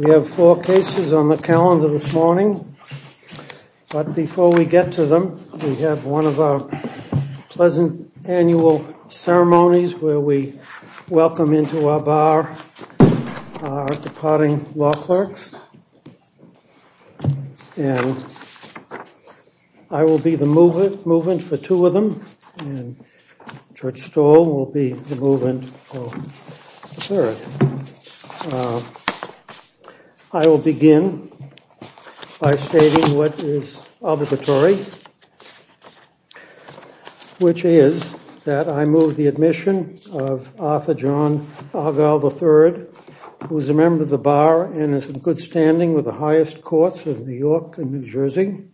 We have four cases on the calendar this morning. But before we get to them, we have one of our Pleasant Annual Ceremonies where we welcome into our bar our departing law clerks. And I will be the movement for two of them, and George Stoll will be the movement for the third. I will begin by stating what is obligatory, which is that I move the admission of Arthur John Argyle III, who is a member of the bar and is in good standing with the highest courts of New York and New Jersey.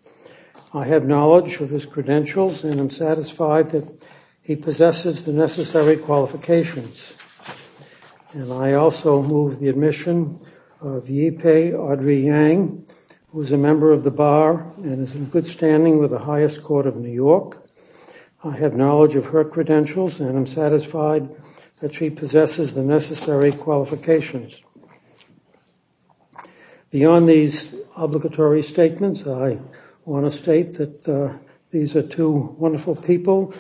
I have knowledge of his credentials and I'm satisfied that he possesses the necessary qualifications. And I also move the admission of Yipei Audrey Yang, who is a member of the bar and is in good standing with the highest court of New York. I have knowledge of her credentials and I'm satisfied that she possesses the necessary qualifications. Beyond these obligatory statements, I want to state that these are two wonderful people.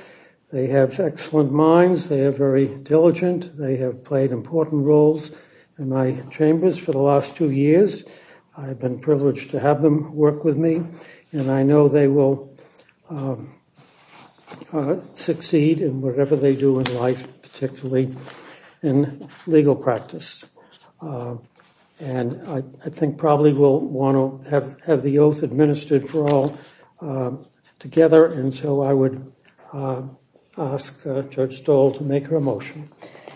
They have excellent minds. They are very diligent. They have played important roles in my chambers for the last two years. I've been privileged to have them work with me and I know they will succeed in whatever they do in life, particularly in legal practice. And I think probably we'll want to have the oath administered for all together. And so I would ask George Stoll to make her motion.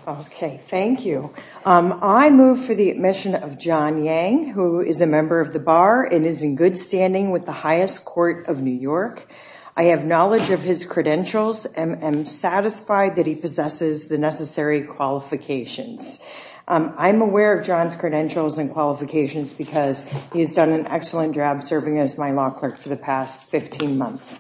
OK, thank you. I move for the admission of John Yang, who is a member of the bar and is in good standing with the highest court of New York. I have knowledge of his credentials and I'm satisfied that he possesses the necessary qualifications. I'm aware of John's credentials and qualifications because he's done an excellent job serving as my law clerk for the past 15 months.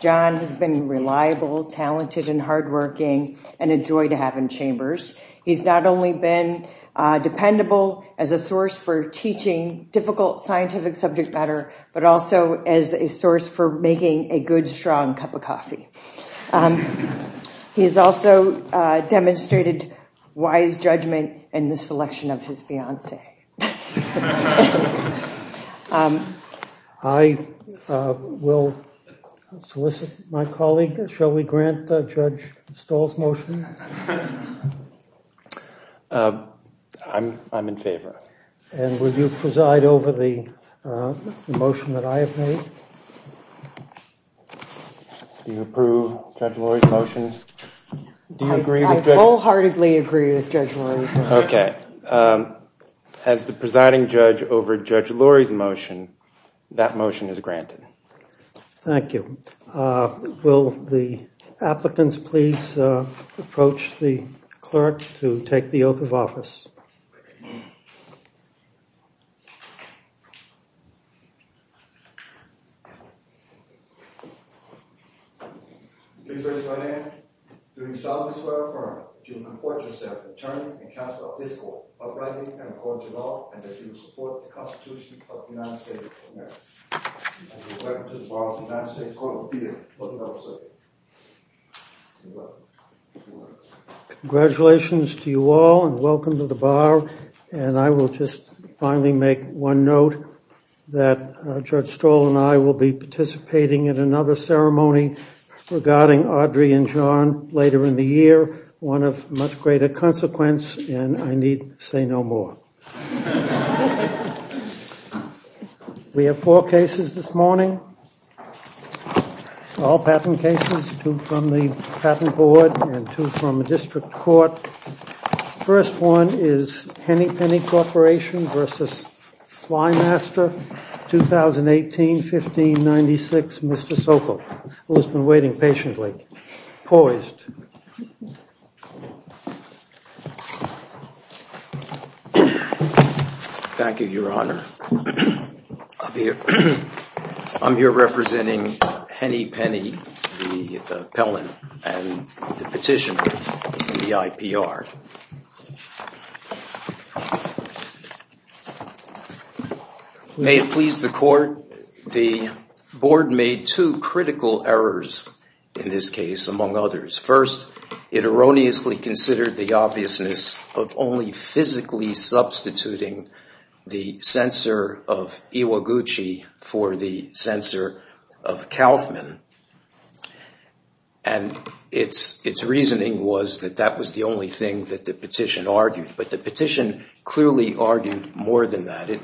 John has been reliable, talented and hardworking and a joy to have in chambers. He's not only been dependable as a source for teaching difficult scientific subject matter, but also as a source for making a good strong cup of coffee. He has also demonstrated wise judgment in the selection of his fiancee. I will solicit my colleague. Shall we grant Judge Stoll's motion? I'm in favor. And will you preside over the motion that I have made? Do you approve Judge Lurie's motion? I wholeheartedly agree with Judge Lurie's motion. OK. As the presiding judge over Judge Lurie's motion, that motion is granted. Thank you. Will the applicants please approach the clerk to take the oath of office? Please raise your right hand. Do you solemnly swear or affirm that you will comport yourself in attorney and counsel at this court, uprightly and according to law, and that you will support the Constitution of the United States of America? I do. I do. Welcome to the Bar of the United States Court of Appeals. Welcome. Congratulations to you all and welcome to the Bar. And I will just finally make one note that Judge Stoll and I will be participating in another ceremony regarding Audrey and John later in the year, one of much greater consequence, and I need say no more. We have four cases this morning, all patent cases, two from the Patent Board and two from the District Court. First one is Henny Penny Corporation versus Flymaster 2018-15-96. Mr. Sokol, who has been waiting patiently, poised. I'm here representing Henny Penny, the appellant, and the petitioner, the IPR. May it please the Court, the Board made two critical errors in this case, among others. First, it erroneously considered the obviousness of only physically substituting the censor of Iwaguchi for the censor of Kaufman, and its reasoning was that that was the only thing that the petition argued. But the petition clearly argued more than that. And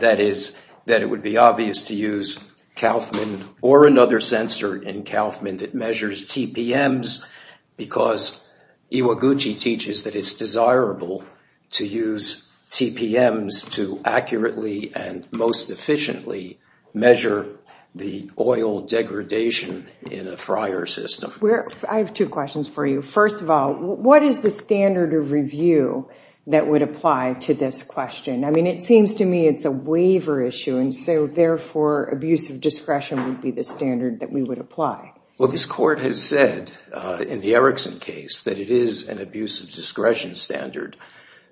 that is that it would be obvious to use Kaufman or another censor in Kaufman that measures TPMs because Iwaguchi teaches that it's desirable to use TPMs to accurately and most efficiently measure the oil degradation in a fryer system. I have two questions for you. First of all, what is the standard of review that would apply to this question? I mean, it seems to me it's a waiver issue, and so, therefore, abusive discretion would be the standard that we would apply. Well, this Court has said in the Erickson case that it is an abusive discretion standard.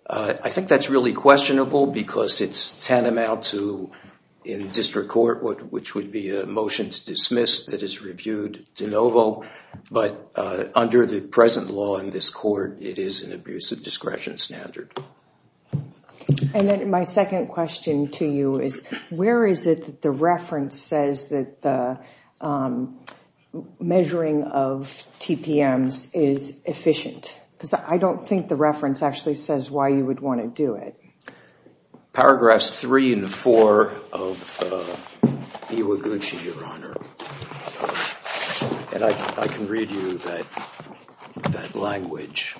I think that's really questionable because it's tantamount to, in district court, which would be a motion to dismiss that is reviewed de novo. But under the present law in this Court, it is an abusive discretion standard. And then my second question to you is, where is it that the reference says that the measuring of TPMs is efficient? Because I don't think the reference actually says why you would want to do it. Paragraphs 3 and 4 of Iwaguchi, Your Honor. And I can read you that language.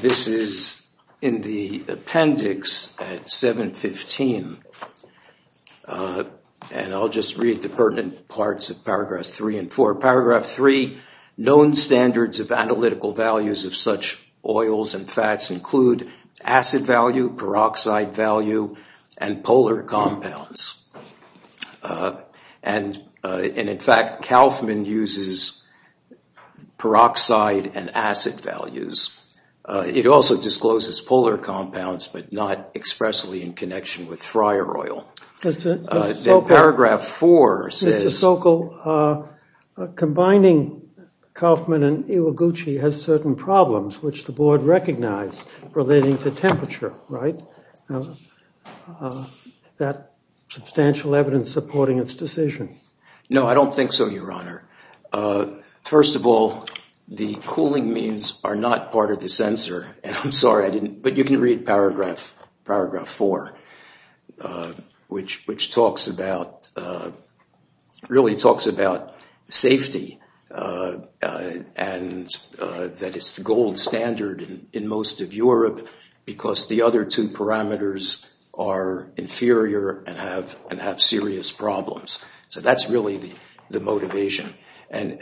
This is in the appendix at 715, and I'll just read the pertinent parts of paragraphs 3 and 4. Paragraph 3, known standards of analytical values of such oils and fats include acid value, peroxide value, and polar compounds. And, in fact, Kauffman uses peroxide and acid values. It also discloses polar compounds, but not expressly in connection with friar oil. Paragraph 4 says. Mr. Sokol, combining Kauffman and Iwaguchi has certain problems, which the board recognized, relating to temperature, right? Is that substantial evidence supporting its decision? No, I don't think so, Your Honor. First of all, the cooling means are not part of the censor. And I'm sorry, I didn't. But you can read paragraph 4, which talks about, really talks about safety. And that it's the gold standard in most of Europe, because the other two parameters are inferior and have serious problems. So that's really the motivation. And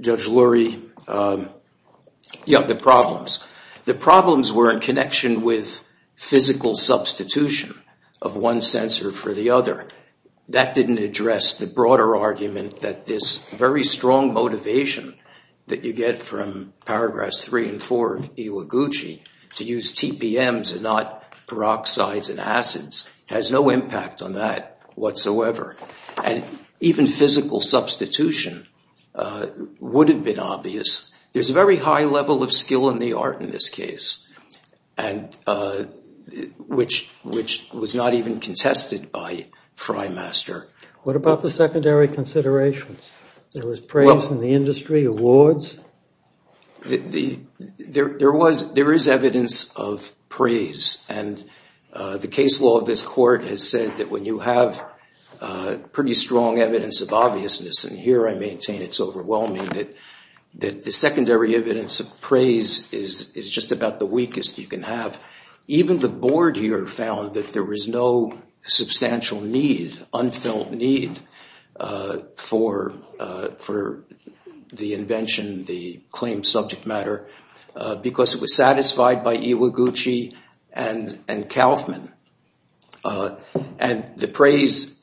Judge Lurie, yeah, the problems. The problems were in connection with physical substitution of one censor for the other. That didn't address the broader argument that this very strong motivation that you get from paragraphs 3 and 4 of Iwaguchi, to use TPMs and not peroxides and acids, has no impact on that whatsoever. And even physical substitution would have been obvious. There's a very high level of skill in the art in this case, which was not even contested by Freymaster. What about the secondary considerations? There was praise in the industry, awards? There is evidence of praise. And the case law of this court has said that when you have pretty strong evidence of obviousness, and here I maintain it's overwhelming, that the secondary evidence of praise is just about the weakest you can have. Even the board here found that there was no substantial need, unfilled need, for the invention, the claimed subject matter, because it was satisfied by Iwaguchi and Kaufman. And the praise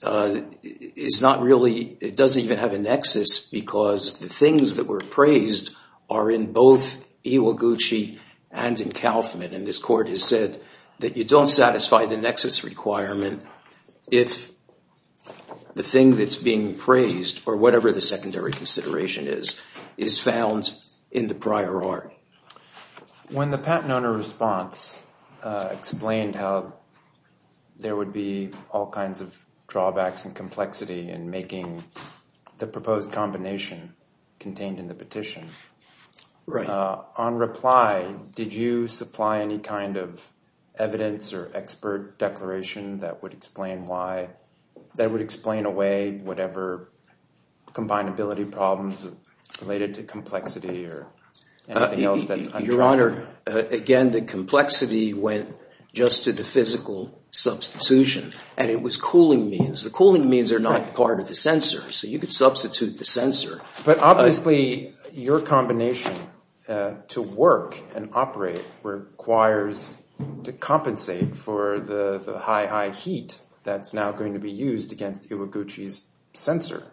is not really, it doesn't even have a nexus, because the things that were praised are in both Iwaguchi and in Kaufman. And this court has said that you don't satisfy the nexus requirement if the thing that's being praised, or whatever the secondary consideration is, is found in the prior art. When the patent owner response explained how there would be all kinds of drawbacks and complexity in making the proposed combination contained in the petition, on reply, did you supply any kind of evidence or expert declaration that would explain why, that would explain away whatever combinability problems related to complexity or anything else that's untrue? Your Honor, again, the complexity went just to the physical substitution, and it was cooling means. The cooling means are not part of the censor, so you could substitute the censor. But obviously, your combination to work and operate requires to compensate for the high, high heat that's now going to be used against Iwaguchi's censor.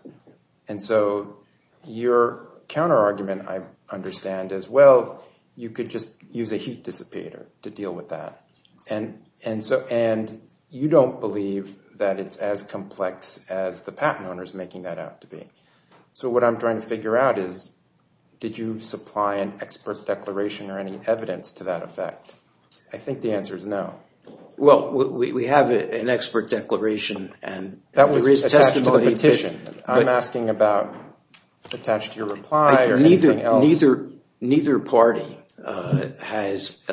And so your counterargument, I understand as well, you could just use a heat dissipator to deal with that. And you don't believe that it's as complex as the patent owner is making that out to be. So what I'm trying to figure out is, did you supply an expert declaration or any evidence to that effect? I think the answer is no. Well, we have an expert declaration. That was attached to the petition. I'm asking about attached to your reply or anything else. Neither party has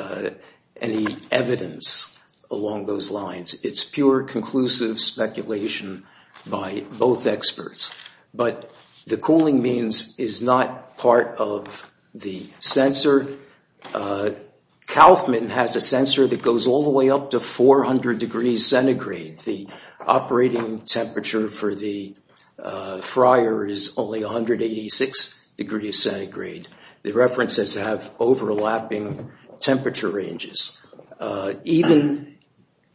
any evidence along those lines. It's pure, conclusive speculation by both experts. But the cooling means is not part of the censor. Kaufman has a censor that goes all the way up to 400 degrees centigrade. The operating temperature for the fryer is only 186 degrees centigrade. The references have overlapping temperature ranges. Even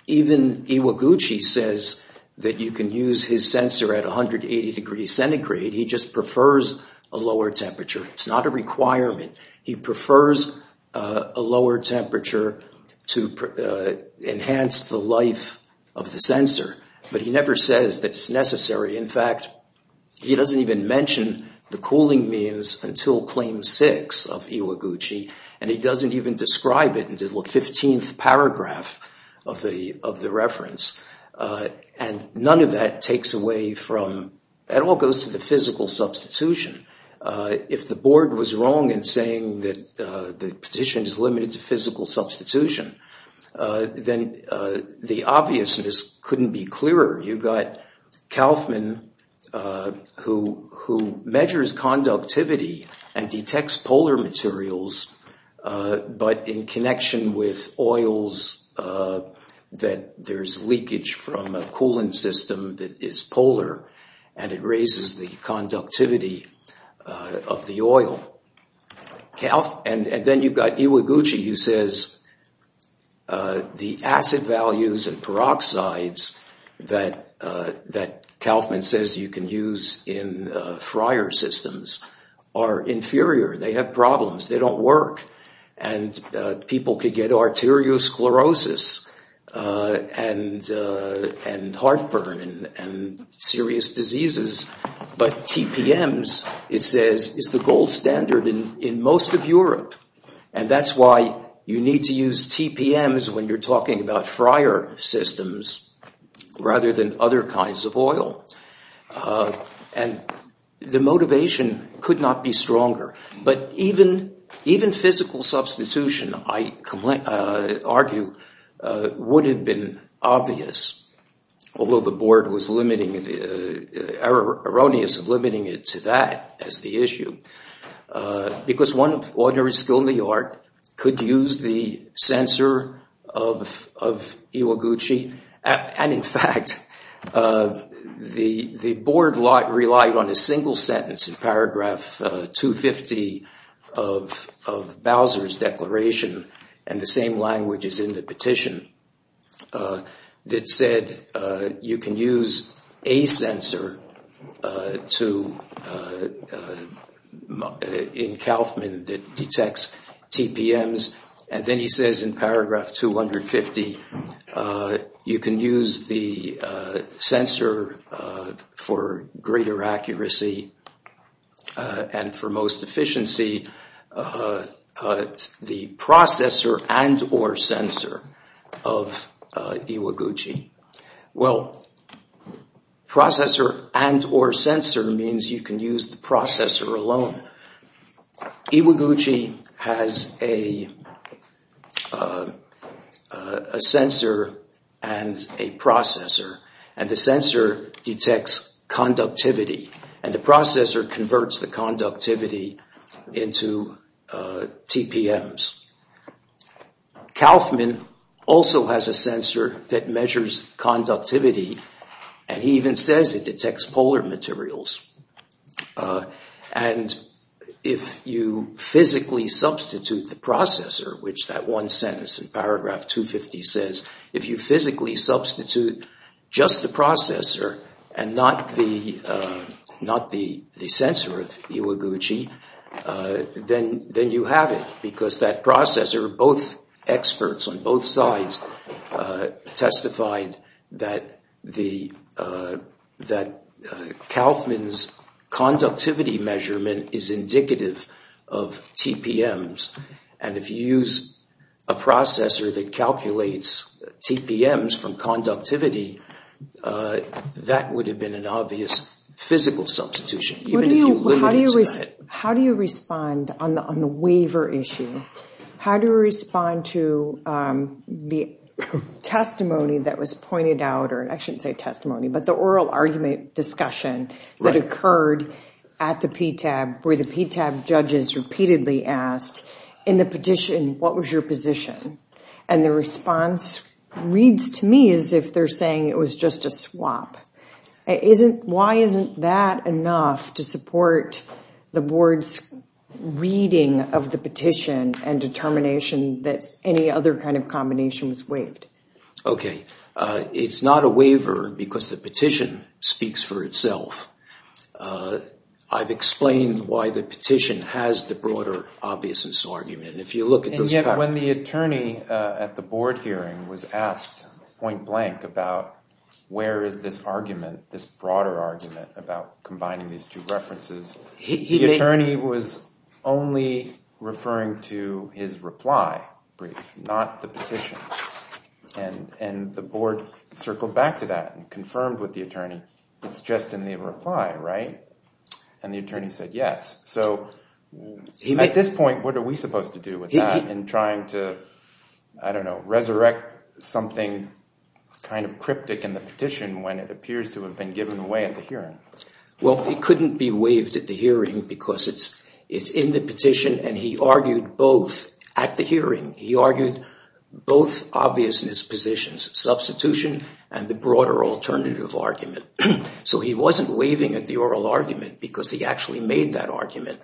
Iwaguchi says that you can use his censor at 180 degrees centigrade. He just prefers a lower temperature. It's not a requirement. He prefers a lower temperature to enhance the life of the censor. But he never says that it's necessary. In fact, he doesn't even mention the cooling means until Claim 6 of Iwaguchi. And he doesn't even describe it until the 15th paragraph of the reference. And none of that takes away from, it all goes to the physical substitution. If the board was wrong in saying that the petition is limited to physical substitution, then the obviousness couldn't be clearer. You've got Kaufman who measures conductivity and detects polar materials, but in connection with oils that there's leakage from a cooling system that is polar, and it raises the conductivity of the oil. And then you've got Iwaguchi who says the acid values and peroxides that Kaufman says you can use in fryer systems are inferior. They have problems. They don't work. And people could get arteriosclerosis and heartburn and serious diseases. But TPMs, it says, is the gold standard in most of Europe. And that's why you need to use TPMs when you're talking about fryer systems rather than other kinds of oil. And the motivation could not be stronger. But even physical substitution, I argue, would have been obvious, although the board was erroneous in limiting it to that as the issue. Because one of ordinary skill in the art could use the censor of Iwaguchi. And in fact, the board relied on a single sentence in paragraph 250 of Bowser's declaration and the same language is in the petition that said you can use a censor in Kaufman that detects TPMs. And then he says in paragraph 250, you can use the censor for greater accuracy and for most efficiency. The processor and or censor of Iwaguchi. Well, processor and or censor means you can use the processor alone. Iwaguchi has a sensor and a processor and the sensor detects conductivity and the processor converts the conductivity into TPMs. Kaufman also has a sensor that measures conductivity and he even says it detects polar materials. And if you physically substitute the processor, which that one sentence in paragraph 250 says, if you physically substitute just the processor and not the sensor of Iwaguchi, then you have it. Because that processor, both experts on both sides testified that Kaufman's conductivity measurement is indicative of TPMs. And if you use a processor that calculates TPMs from conductivity, that would have been an obvious physical substitution. How do you respond on the waiver issue? How do you respond to the testimony that was pointed out or I shouldn't say testimony, but the oral argument discussion that occurred at the PTAB where the PTAB judges repeatedly asked in the petition, what was your position? And the response reads to me as if they're saying it was just a swap. Why isn't that enough to support the board's reading of the petition and determination that any other kind of combination was waived? Okay, it's not a waiver because the petition speaks for itself. I've explained why the petition has the broader obviousness argument. And yet when the attorney at the board hearing was asked point blank about where is this argument, this broader argument about combining these two references, the attorney was only referring to his reply brief, not the petition. And the board circled back to that and confirmed with the attorney, it's just in the reply, right? And the attorney said yes. So at this point, what are we supposed to do with that in trying to, I don't know, resurrect something kind of cryptic in the petition when it appears to have been given away at the hearing? Well, it couldn't be waived at the hearing because it's in the petition and he argued both at the hearing. He argued both obviousness positions, substitution and the broader alternative argument. So he wasn't waiving at the oral argument because he actually made that argument.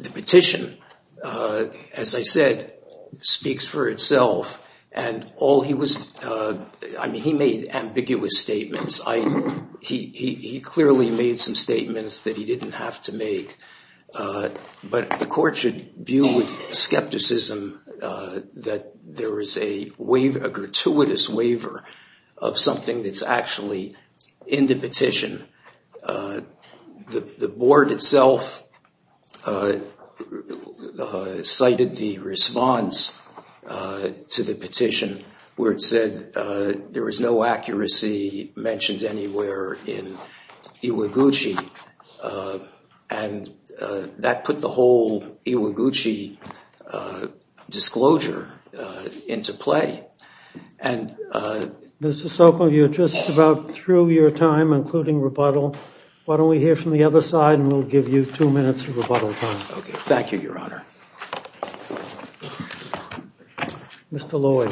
The petition, as I said, speaks for itself. And all he was, I mean, he made ambiguous statements. He clearly made some statements that he didn't have to make. But the court should view with skepticism that there is a gratuitous waiver of something that's actually in the petition. The board itself cited the response to the petition where it said there was no accuracy mentioned anywhere in Iwaguchi. And that put the whole Iwaguchi disclosure into play. And Mr. Sokol, you're just about through your time, including rebuttal. Why don't we hear from the other side and we'll give you two minutes of rebuttal time. Thank you, Your Honor. Mr. Loy.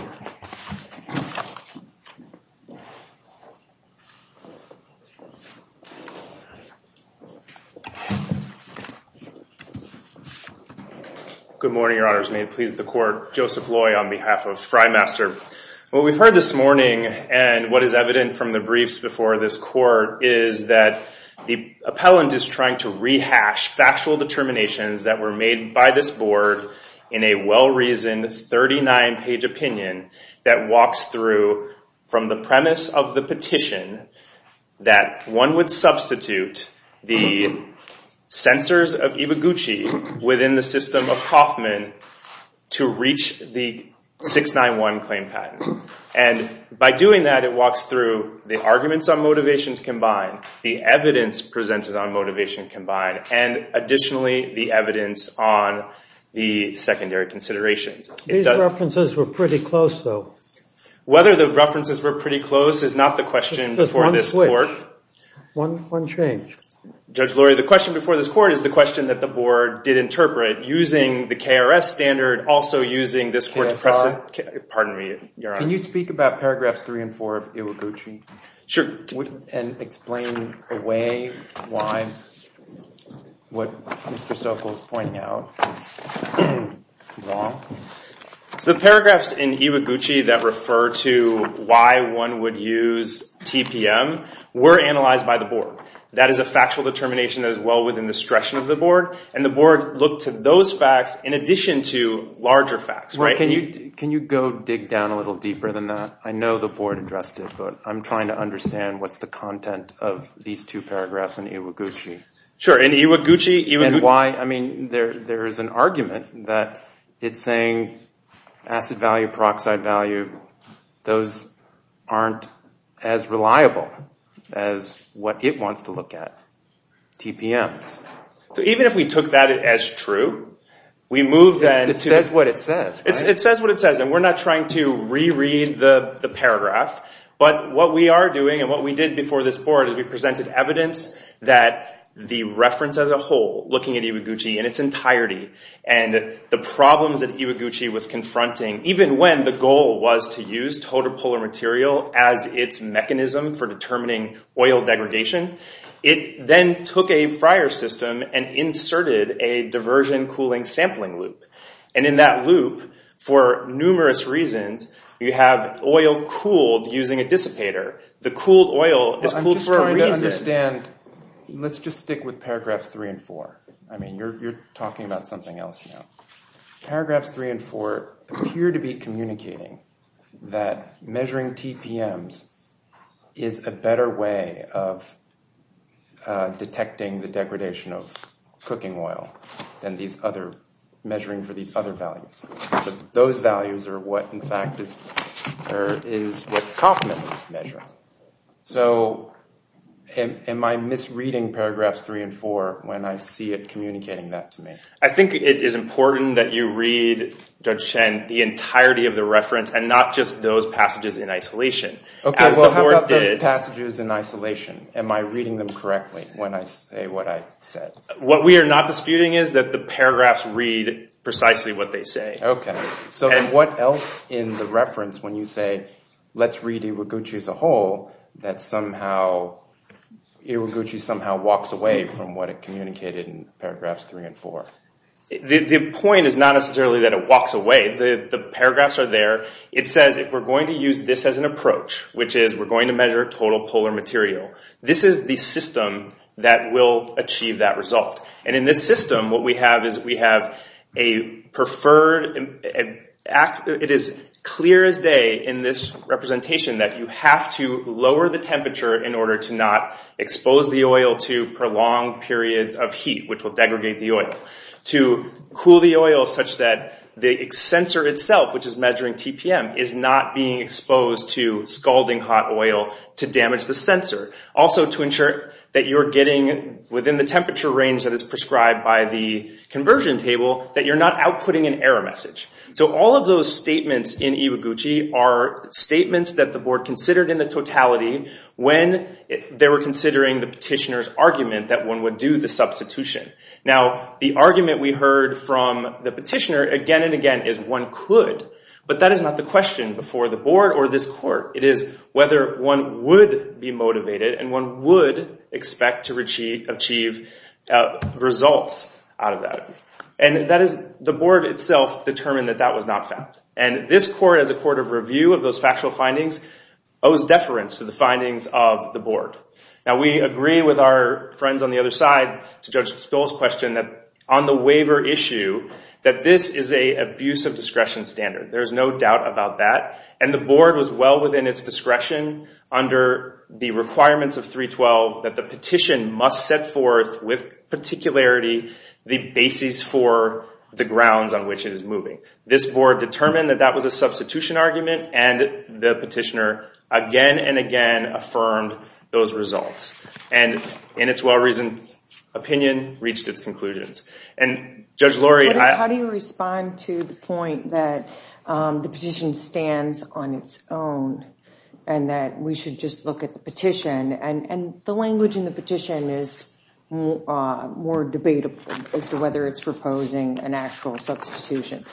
Good morning, Your Honors. May it please the court. Joseph Loy on behalf of Frymaster. What we've heard this morning, and what is evident from the briefs before this court, is that the appellant is trying to rehash factual determinations that were made by this board in a well-reasoned 39-page opinion that walks through from the premise of the petition that one would substitute the censors of Iwaguchi within the system of Kauffman to reach the 691 claim patent. And by doing that, it walks through the arguments on motivation combined, the evidence presented on motivation combined, and additionally, the evidence on the secondary considerations. These references were pretty close, though. Whether the references were pretty close is not the question before this court. Just one switch. One change. Judge Loy, the question before this court is the question that the board did interpret, using the KRS standard, also using this court's precedent. KSR? Pardon me, Your Honor. Can you speak about paragraphs three and four of Iwaguchi? Sure. And explain away why what Mr. Sokol is pointing out is wrong? The paragraphs in Iwaguchi that refer to why one would use TPM were analyzed by the board. That is a factual determination that is well within the discretion of the board, and the board looked to those facts in addition to larger facts. Can you go dig down a little deeper than that? I know the board addressed it, but I'm trying to understand what's the content of these two paragraphs in Iwaguchi. Sure. There is an argument that it's saying acid value, peroxide value, those aren't as reliable as what it wants to look at, TPMs. So even if we took that as true, we move then to— It says what it says. It says what it says, and we're not trying to reread the paragraph, but what we are doing and what we did before this court is we presented evidence that the reference as a whole, looking at Iwaguchi in its entirety, and the problems that Iwaguchi was confronting, even when the goal was to use TPM as its mechanism for determining oil degradation, it then took a Friar system and inserted a diversion cooling sampling loop. And in that loop, for numerous reasons, you have oil cooled using a dissipator. The cooled oil is cooled for a reason. Let's just stick with paragraphs three and four. I mean, you're talking about something else now. Paragraphs three and four appear to be communicating that measuring TPMs is a better way of detecting the degradation of cooking oil than measuring for these other values. Those values are what, in fact, is what Kaufman is measuring. So am I misreading paragraphs three and four when I see it communicating that to me? I think it is important that you read, Judge Shen, the entirety of the reference and not just those passages in isolation. Okay, well how about those passages in isolation? Am I reading them correctly when I say what I said? What we are not disputing is that the paragraphs read precisely what they say. Okay, so then what else in the reference when you say, let's read Iwaguchi as a whole, that Iwaguchi somehow walks away from what it communicated in paragraphs three and four? The point is not necessarily that it walks away. The paragraphs are there. It says if we're going to use this as an approach, which is we're going to measure total polar material, this is the system that will achieve that result. In this system, it is clear as day in this representation that you have to lower the temperature in order to not expose the oil to prolonged periods of heat, which will degradate the oil. To cool the oil such that the sensor itself, which is measuring TPM, is not being exposed to scalding hot oil to damage the sensor. Also, to ensure that you're getting within the temperature range that is prescribed by the conversion table, that you're not outputting an error message. So all of those statements in Iwaguchi are statements that the board considered in the totality when they were considering the petitioner's argument that one would do the substitution. Now, the argument we heard from the petitioner again and again is one could, but that is not the question before the board or this court. It is whether one would be motivated and one would expect to achieve results out of that. And the board itself determined that that was not fact. And this court, as a court of review of those factual findings, owes deference to the findings of the board. Now, we agree with our friends on the other side, to Judge Spill's question, that on the waiver issue, that this is an abuse of discretion standard. There is no doubt about that. And the board was well within its discretion under the requirements of 312 that the petition must set forth with particularity the basis for the grounds on which it is moving. This board determined that that was a substitution argument, and the petitioner again and again affirmed those results. And in its well-reasoned opinion, reached its conclusions. How do you respond to the point that the petition stands on its own and that we should just look at the petition? And the language in the petition is more debatable as to whether it's proposing an actual substitution.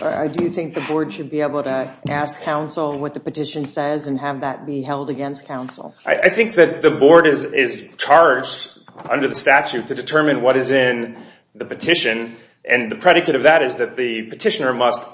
Do you think the board should be able to ask counsel what the petition says and have that be held against counsel? I think that the board is charged, under the statute, to determine what is in the petition. And the predicate of that is that the petitioner must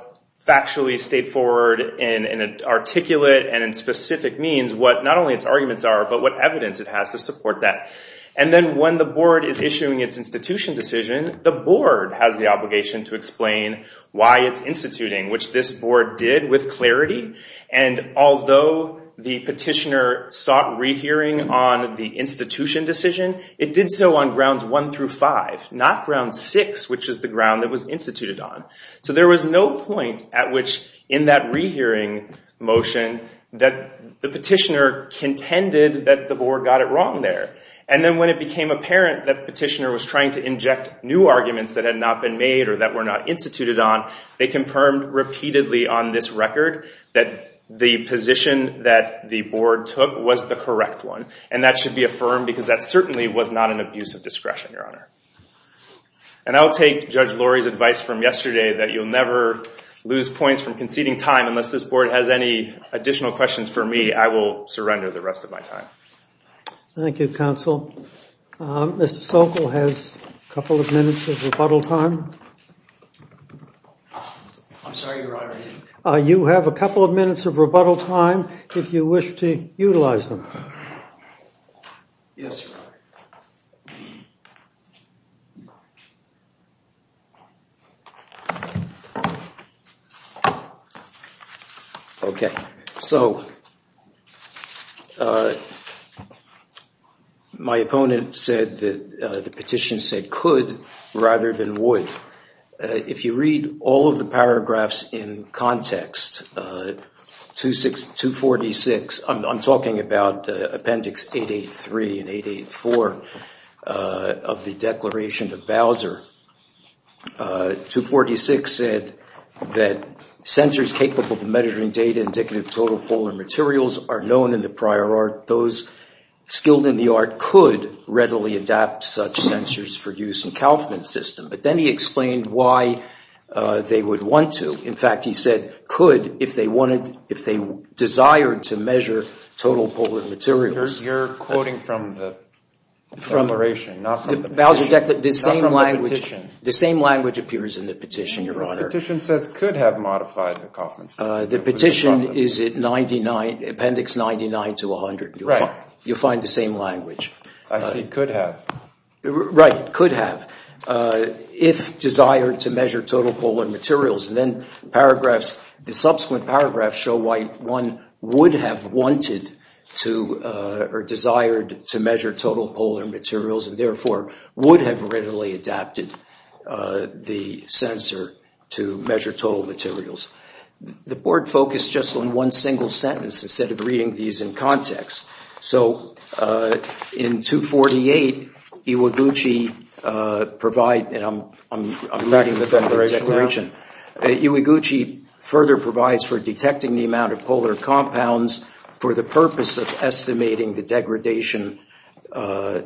factually state forward in an articulate and in specific means what not only its arguments are, but what evidence it has to support that. And then when the board is issuing its institution decision, the board has the obligation to explain why it's instituting, which this board did with clarity. And although the petitioner sought rehearing on the institution decision, it did so on grounds one through five, not ground six, which is the ground that was instituted on. So there was no point at which, in that rehearing motion, that the petitioner contended that the board got it wrong there. And then when it became apparent that the petitioner was trying to inject new arguments that had not been made or that were not instituted on, they confirmed repeatedly on this record that the position that the board took was the correct one. And that should be affirmed because that certainly was not an abuse of discretion, Your Honor. And I'll take Judge Lurie's advice from yesterday that you'll never lose points from conceding time unless this board has any additional questions for me. I will surrender the rest of my time. Thank you, Counsel. Mr. Sokol has a couple of minutes of rebuttal time. I'm sorry, Your Honor. You have a couple of minutes of rebuttal time if you wish to utilize them. Yes, Your Honor. Okay. So my opponent said that the petition said could rather than would. If you read all of the paragraphs in context, 246, I'm talking about Appendix 883 and 884 of the Declaration of Bowser, 246 said that sensors capable of measuring data indicative of total polar materials are known in the prior art. Those skilled in the art could readily adapt such sensors for use in Kaufman's system. But then he explained why they would want to. In fact, he said could if they desired to measure total polar materials. You're quoting from the declaration, not from the petition. The same language appears in the petition, Your Honor. The petition says could have modified the Kaufman system. The petition is at Appendix 99 to 100. Right. You'll find the same language. I see, could have. Right, could have. If desired to measure total polar materials. And then paragraphs, the subsequent paragraphs show why one would have wanted to or desired to measure total polar materials and therefore would have readily adapted the sensor to measure total materials. The board focused just on one single sentence instead of reading these in context. So, in 248, Iwaguchi provide, and I'm writing the declaration, Iwaguchi further provides for detecting the amount of polar compounds for the purpose of estimating the degradation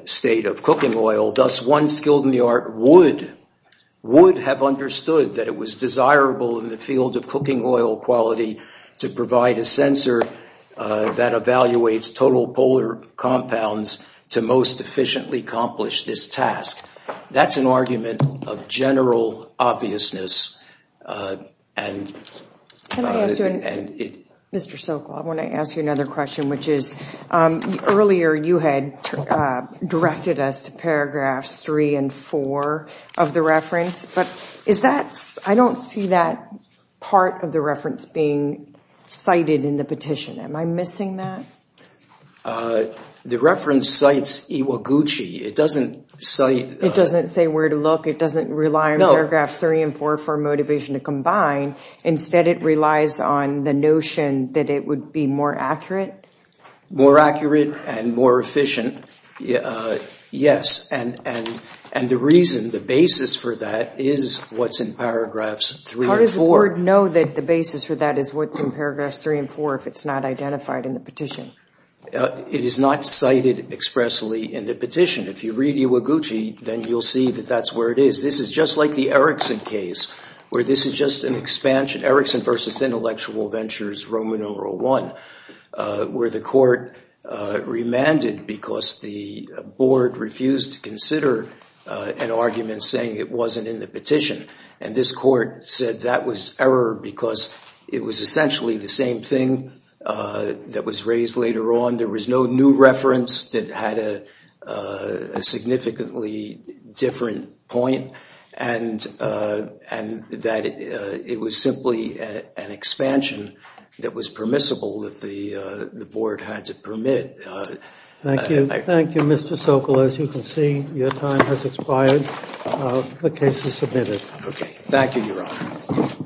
state of cooking oil. Thus, one skilled in the art would, would have understood that it was desirable in the field of cooking oil quality to provide a sensor that evaluates total polar compounds to most efficiently accomplish this task. That's an argument of general obviousness. Mr. Sokol, I want to ask you another question, which is earlier you had directed us to paragraphs three and four of the reference, but is that, I don't see that part of the reference being cited in the petition. Am I missing that? The reference cites Iwaguchi. It doesn't cite. It doesn't say where to look. It doesn't rely on paragraphs three and four for motivation to combine. Instead, it relies on the notion that it would be more accurate. More accurate and more efficient, yes. And the reason, the basis for that is what's in paragraphs three and four. How does the board know that the basis for that is what's in paragraphs three and four if it's not identified in the petition? It is not cited expressly in the petition. If you read Iwaguchi, then you'll see that that's where it is. This is just like the Erickson case, where this is just an expansion, Erickson versus Intellectual Ventures Roman numeral I, where the court remanded because the board refused to consider an argument saying it wasn't in the petition. And this court said that was error because it was essentially the same thing that was raised later on. There was no new reference that had a significantly different point, and that it was simply an expansion that was permissible that the board had to permit. Thank you. Thank you, Mr. Sokol. As you can see, your time has expired. The case is submitted. Okay. Thank you, Your Honor.